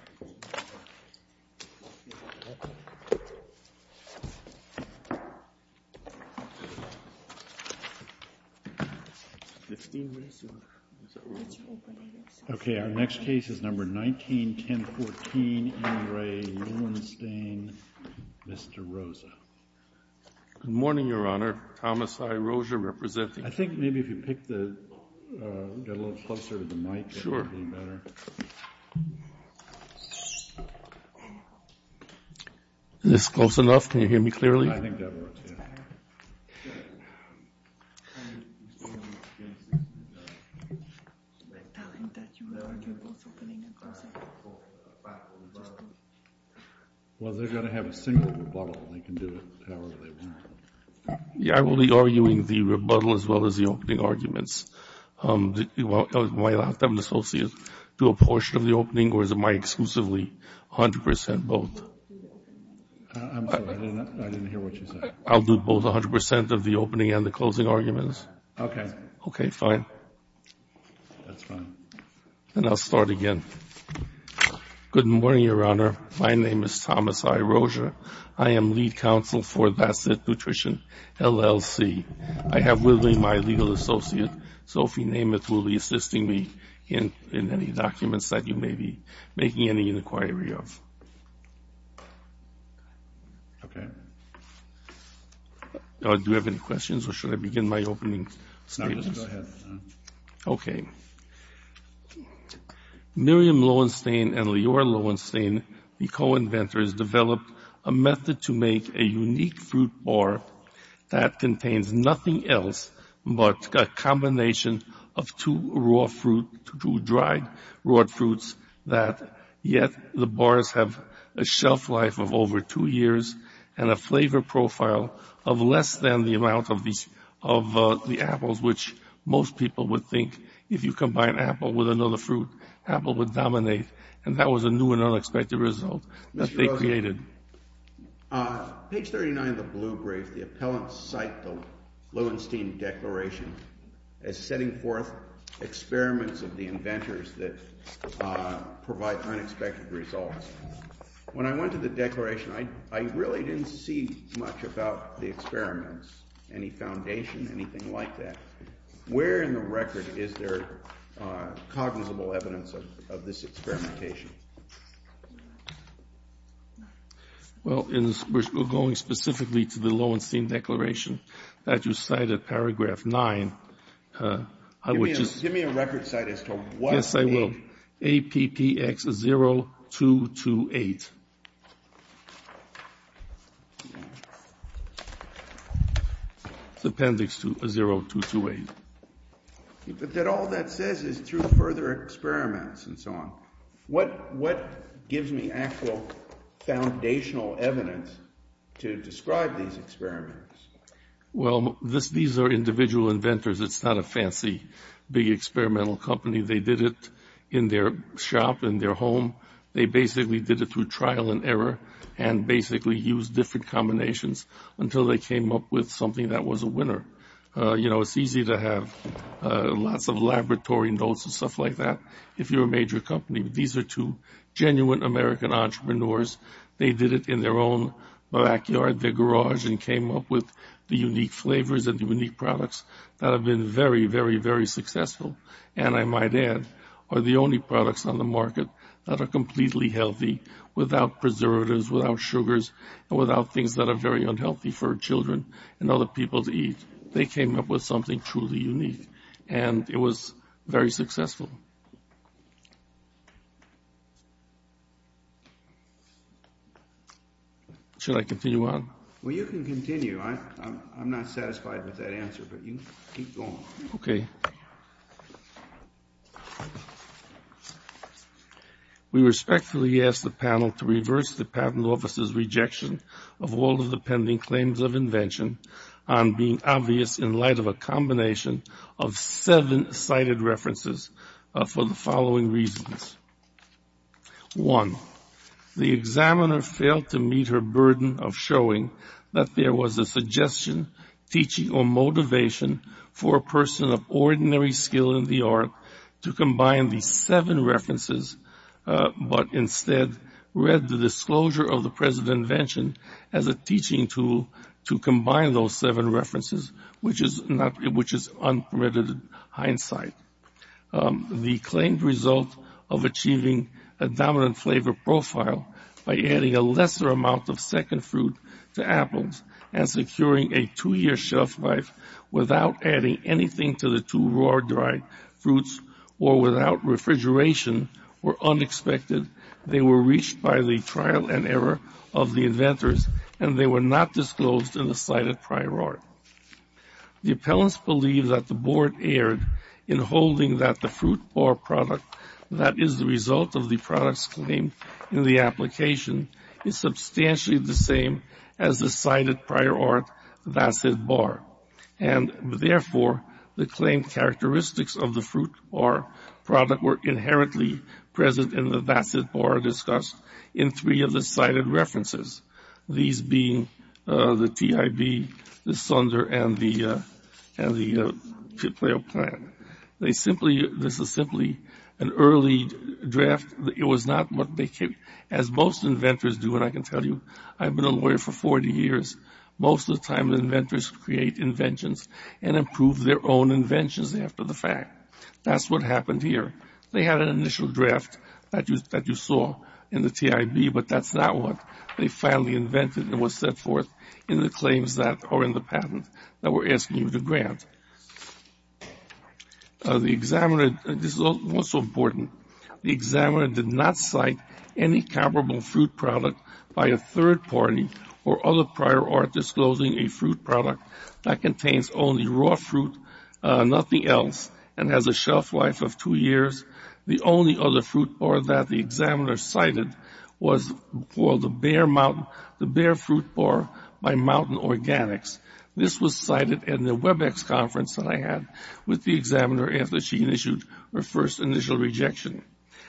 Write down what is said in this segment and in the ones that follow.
This is Re Lewensztain. Yeah, I think there are none of these in this book. Oh, Jesus. Where did you hide all this stuff? I've got it right here. Okay, our next case is number 19-1014, Andrei Lewenstain, Mr. Rosa. Good morning, Your Honor. Thomas I. Rosa representing. I think maybe if you pick the, get a little closer to the mic. Sure. Is this close enough? Can you hear me clearly? I think that works, yeah. Well, they're going to have a single rebuttal. They can do it however they want. Yeah, I will be arguing the rebuttal as well as the opening arguments. Do a portion of the opening or is it my exclusively, 100% both? I'm sorry, I didn't hear what you said. I'll do both, 100% of the opening and the closing arguments. Okay. Okay, fine. That's fine. And I'll start again. Good morning, Your Honor. My name is Thomas I. Rosa. I am lead counsel for That's It Nutrition, LLC. I have with me my legal associate, Sophie Nameth, who will be assisting me in any documents that you may be making any inquiry of. Okay. Do you have any questions or should I begin my opening statements? No, just go ahead. Okay. Miriam Lowenstein and Lior Lowenstein, the co-inventors, developed a method to make a unique fruit bar that contains nothing else but a combination of two dried raw fruits that yet the bars have a shelf life of over two years and a flavor profile of less than the amount of the apples, which most people would think if you combine apple with another fruit, apple would dominate. And that was a new and unexpected result that they created. Mr. Rosa, page 39 of the blue brief, the appellants cite the Lowenstein Declaration as setting forth experiments of the inventors that provide unexpected results. When I went to the declaration, I really didn't see much about the experiments, any foundation, anything like that. Where in the record is there cognizable evidence of this experimentation? Well, we're going specifically to the Lowenstein Declaration that you cite at paragraph 9. Give me a record cite as to what the... Yes, I will. APPX 0228. It's appendix 0228. But all that says is through further experiments and so on. What gives me actual foundational evidence to describe these experiments? Well, these are individual inventors. It's not a fancy big experimental company. They did it in their shop, in their home. They basically did it through trial and error and basically used different combinations until they came up with something that was a winner. You know, it's easy to have lots of laboratory notes and stuff like that if you're a major company. These are two genuine American entrepreneurs. They did it in their own backyard, their garage, and came up with the unique flavors and unique products that have been very, very, very successful and I might add are the only products on the market that are completely healthy without preservatives, without sugars, and without things that are very unhealthy for children and other people to eat. They came up with something truly unique and it was very successful. Should I continue on? Well, you can continue. I'm not satisfied with that answer, but you can keep going. Okay. We respectfully ask the panel to reverse the Patent Office's rejection of all of the pending claims of invention on being obvious in light of a combination of seven cited references for the following reasons. One, the examiner failed to meet her burden of showing that there was a suggestion, teaching, or motivation for a person of ordinary skill in the art to combine these seven references, but instead read the disclosure of the present invention as a teaching tool to combine those seven references, which is unpermitted hindsight. The claimed result of achieving a dominant flavor profile by adding a lesser amount of second fruit to apples and securing a two-year shelf life without adding anything to the two raw dried fruits or without refrigeration were unexpected. They were reached by the trial and error of the inventors and they were not disclosed in the cited prior art. The appellants believe that the board erred in holding that the fruit bar product that is the result of the product's claim in the application is substantially the same as the cited prior art, and therefore the claimed characteristics of the fruit bar product were inherently present in the Bassett bar discussed in three of the cited references, these being the TIB, the Sunder, and the Kipleo plan. This is simply an early draft. It was not what they came, as most inventors do, and I can tell you I've been a lawyer for 40 years. Most of the time inventors create inventions and improve their own inventions after the fact. That's what happened here. They had an initial draft that you saw in the TIB, but that's not what they finally invented and was set forth in the claims that are in the patent that we're asking you to grant. This is also important. The examiner did not cite any comparable fruit product by a third party or other prior art disclosing a fruit product that contains only raw fruit, nothing else, and has a shelf life of two years. The only other fruit bar that the examiner cited was called the Bear Fruit Bar by Mountain Organics. This was cited in the Webex conference that I had with the examiner after she had issued her first initial rejection.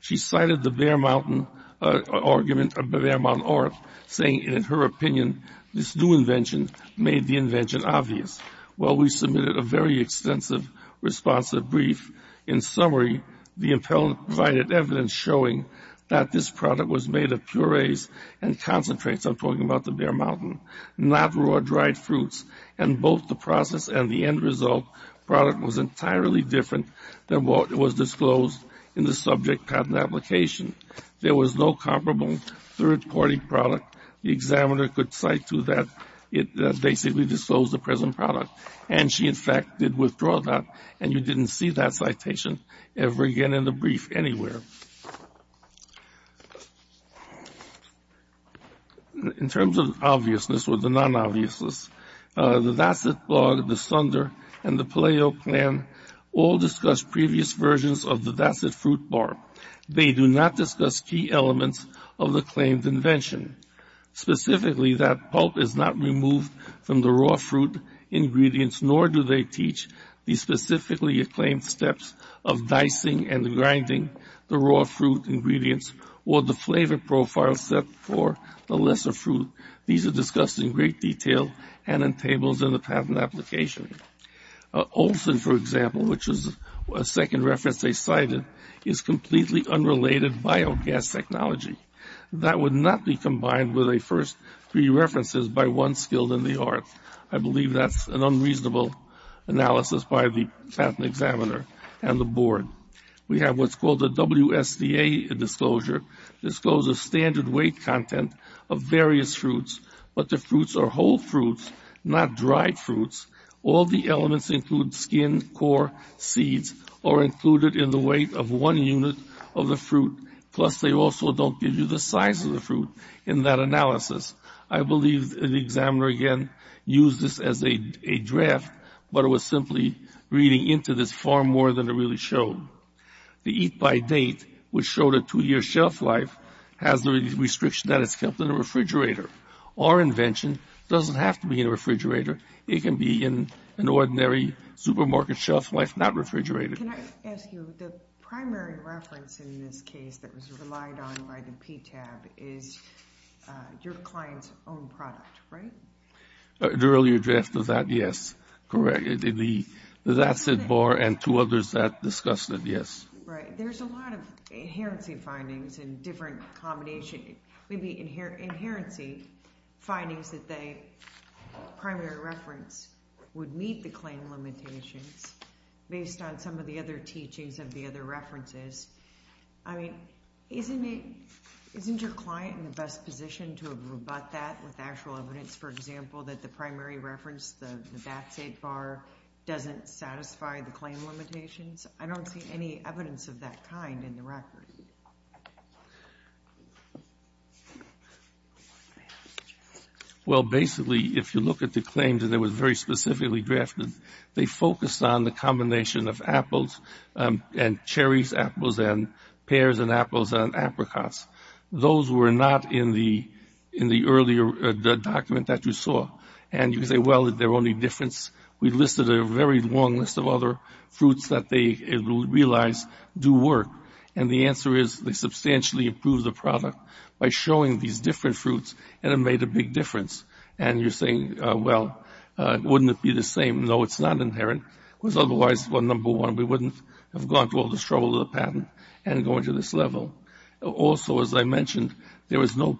She cited the Bear Mountain argument, Bear Mountain Org, saying in her opinion this new invention made the invention obvious. Well, we submitted a very extensive responsive brief. In summary, the appellant provided evidence showing that this product was made of purees and concentrates, I'm talking about the Bear Mountain, not raw dried fruits, and both the process and the end result product was entirely different than what was disclosed in the subject patent application. There was no comparable third-party product. The examiner could cite to that it basically disclosed the present product, and she, in fact, did withdraw that, and you didn't see that citation ever again in the brief anywhere. In terms of obviousness or the non-obviousness, the Vassett Blog, the Sunder, and the Paleo Plan all discussed previous versions of the Vassett Fruit Bar. They do not discuss key elements of the claimed invention, specifically that pulp is not removed from the raw fruit ingredients, nor do they teach the specifically acclaimed steps of dicing and grinding the raw fruit ingredients or the flavor profile set for the lesser fruit. These are discussed in great detail and in tables in the patent application. Olson, for example, which is a second reference they cited, is completely unrelated biogas technology. That would not be combined with the first three references by one skilled in the art. I believe that's an unreasonable analysis by the patent examiner and the board. We have what's called the WSDA disclosure, disclosure of standard weight content of various fruits, but the fruits are whole fruits, not dried fruits. All the elements include skin, core, seeds, or are included in the weight of one unit of the fruit, plus they also don't give you the size of the fruit in that analysis. I believe the examiner again used this as a draft, but it was simply reading into this far more than it really showed. The eat by date, which showed a two-year shelf life, has the restriction that it's kept in a refrigerator. Our invention doesn't have to be in a refrigerator. It can be in an ordinary supermarket shelf life, not refrigerated. Can I ask you, the primary reference in this case that was relied on by the PTAB is your client's own product, right? The earlier draft of that, yes, correct. The VATSID bar and two others that discussed it, yes. Right. There's a lot of inherency findings in different combinations, maybe inherency findings that the primary reference would meet the claim limitations based on some of the other teachings of the other references. I mean, isn't your client in the best position to have rebut that with actual evidence, for example, that the primary reference, the VATSID bar, doesn't satisfy the claim limitations? I don't see any evidence of that kind in the record. Well, basically, if you look at the claims, and they were very specifically drafted, they focused on the combination of apples and cherries, apples and pears, and apples and apricots. Those were not in the earlier document that you saw. And you say, well, they're only different. We listed a very long list of other fruits that they realized do work. And the answer is they substantially improved the product by showing these different fruits and it made a big difference. And you're saying, well, wouldn't it be the same? No, it's not inherent. Otherwise, number one, we wouldn't have gone through all the struggle of the patent and gone to this level. Also, as I mentioned, there was no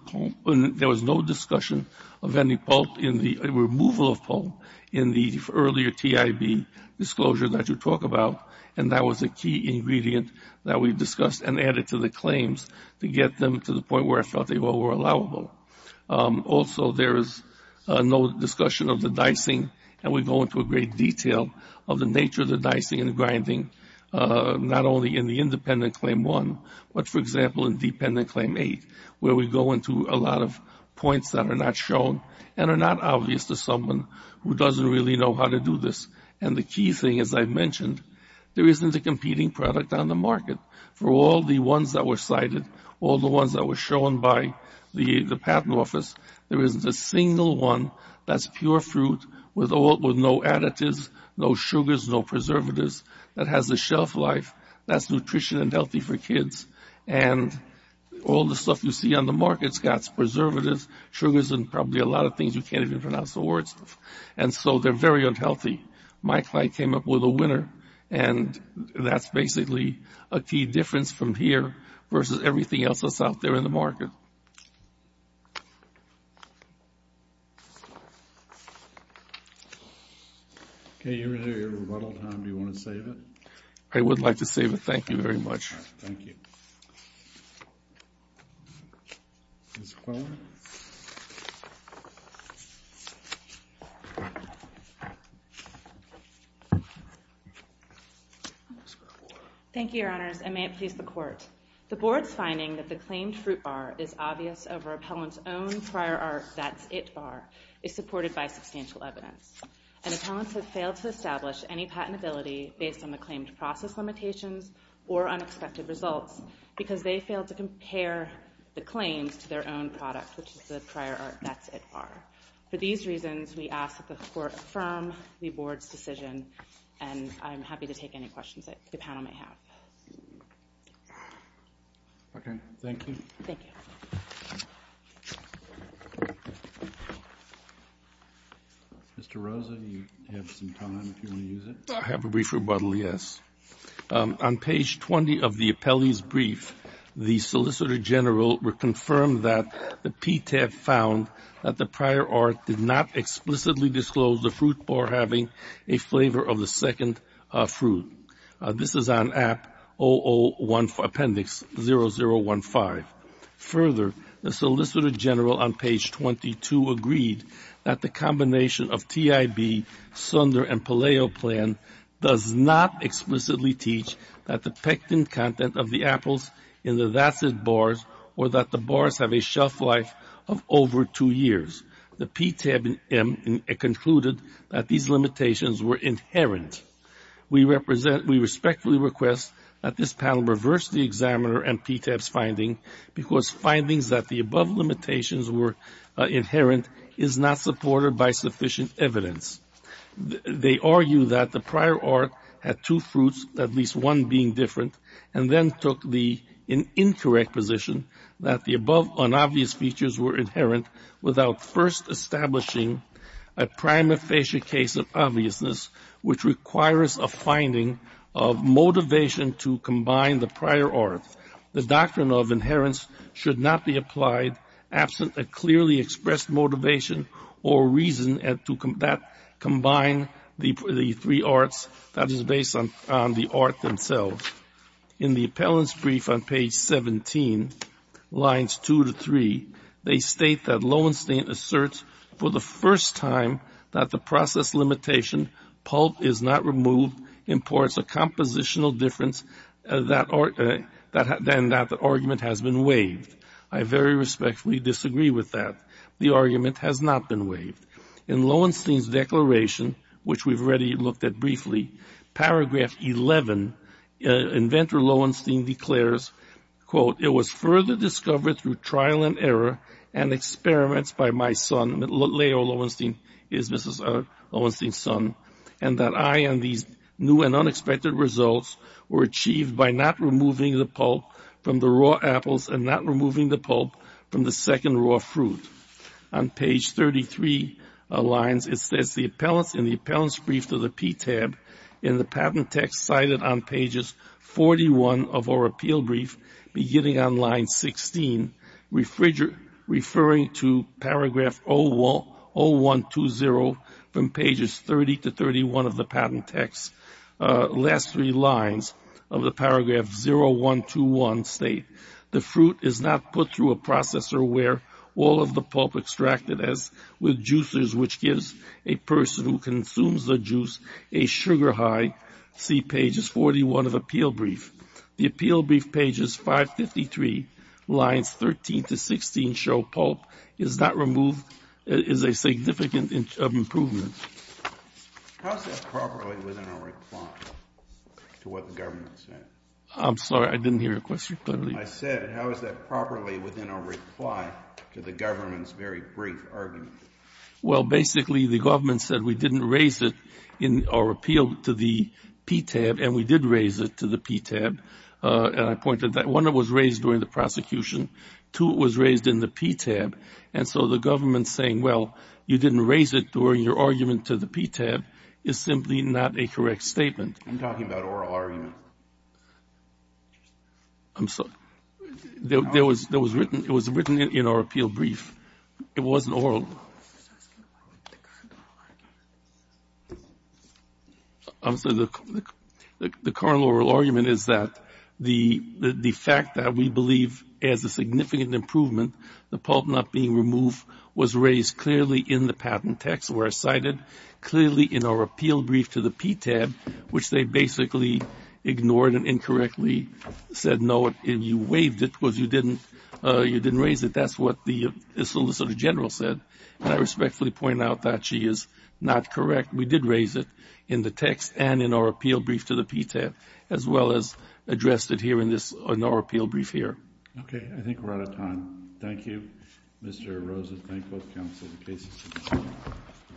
discussion of any removal of pulp in the earlier TIB disclosure that you talk about, and that was a key ingredient that we discussed and added to the claims to get them to the point where I felt they all were allowable. Also, there is no discussion of the dicing, and we go into a great detail of the nature of the dicing and the grinding, not only in the independent Claim 1, but, for example, in dependent Claim 8, where we go into a lot of points that are not shown and are not obvious to someone who doesn't really know how to do this. And the key thing, as I mentioned, there isn't a competing product on the market. For all the ones that were cited, all the ones that were shown by the patent office, there isn't a single one that's pure fruit with no additives, no sugars, no preservatives, that has a shelf life that's nutrition and healthy for kids. And all the stuff you see on the market's got preservatives, sugars, and probably a lot of things you can't even pronounce the words of. And so they're very unhealthy. My client came up with a winner, and that's basically a key difference from here versus everything else that's out there in the market. Thank you. Okay, you're in your rebuttal time. Do you want to save it? I would like to save it. Thank you very much. All right. Thank you. Ms. Quillen. Thank you, Your Honors, and may it please the Court. The Board's finding that the claimed fruit bar is obvious over appellant's own prior art, that's it bar, is supported by substantial evidence. And appellants have failed to establish any patentability based on the claimed process limitations or unexpected results because they failed to compare the claims to their own product, which is the prior art, that's it bar. For these reasons, we ask that the Court affirm the Board's decision, and I'm happy to take any questions that the panel may have. Okay, thank you. Thank you. Mr. Rosa, do you have some time if you want to use it? I have a brief rebuttal, yes. On page 20 of the appellee's brief, the Solicitor General would confirm that the PTAB found that the prior art did not explicitly disclose the fruit bar having a flavor of the second fruit. This is on App 001 Appendix 0015. Further, the Solicitor General on page 22 agreed that the combination of TIB, Sunder, and Palaio plan does not explicitly teach that the pectin content of the apples in the that's it bars or that the bars have a shelf life of over two years. The PTAB concluded that these limitations were inherent. We respectfully request that this panel reverse the examiner and PTAB's finding, because findings that the above limitations were inherent is not supported by sufficient evidence. They argue that the prior art had two fruits, at least one being different, and then took the incorrect position that the above unobvious features were inherent without first establishing a prima facie case of obviousness, which requires a finding of motivation to combine the prior art. The doctrine of inheritance should not be applied absent a clearly expressed motivation or reason to combine the three arts that is based on the art themselves. In the appellant's brief on page 17, lines 2 to 3, they state that Lowenstein asserts for the first time that the process limitation, pulp is not removed, imports a compositional difference than that the argument has been waived. I very respectfully disagree with that. The argument has not been waived. In Lowenstein's declaration, which we've already looked at briefly, paragraph 11, inventor Lowenstein declares, quote, it was further discovered through trial and error and experiments by my son, Leo Lowenstein is Mrs. Lowenstein's son, and that I and these new and unexpected results were achieved by not removing the pulp from the raw apples and not removing the pulp from the second raw fruit. On page 33 of lines, it says the appellants in the appellant's brief to the PTAB, in the patent text cited on pages 41 of our appeal brief, beginning on line 16, referring to paragraph 0120 from pages 30 to 31 of the patent text, last three lines of the paragraph 0121 state, the fruit is not put through a processor where all of the pulp extracted as with juicers, which gives a person who consumes the juice a sugar high, see pages 41 of appeal brief. The appeal brief pages 553, lines 13 to 16, show pulp is not removed, is a significant improvement. How is that properly within our reply to what the government said? I'm sorry. I didn't hear your question clearly. I said how is that properly within our reply to the government's very brief argument? Well, basically the government said we didn't raise it in our appeal to the PTAB, and we did raise it to the PTAB, and I pointed that one, it was raised during the prosecution, two, it was raised in the PTAB, and so the government saying, well, you didn't raise it during your argument to the PTAB is simply not a correct statement. I'm talking about oral argument. I'm sorry. It was written in our appeal brief. It wasn't oral. The current oral argument is that the fact that we believe as a significant improvement the pulp not being removed was raised clearly in the patent text where it's cited, clearly in our appeal brief to the PTAB, which they basically ignored and incorrectly said no, and you waived it because you didn't raise it. That's what the solicitor general said, and I respectfully point out that she is not correct. We did raise it in the text and in our appeal brief to the PTAB, as well as addressed it here in our appeal brief here. Okay. I think we're out of time. Thank you, Mr. Rosen. Thank both counsel and cases.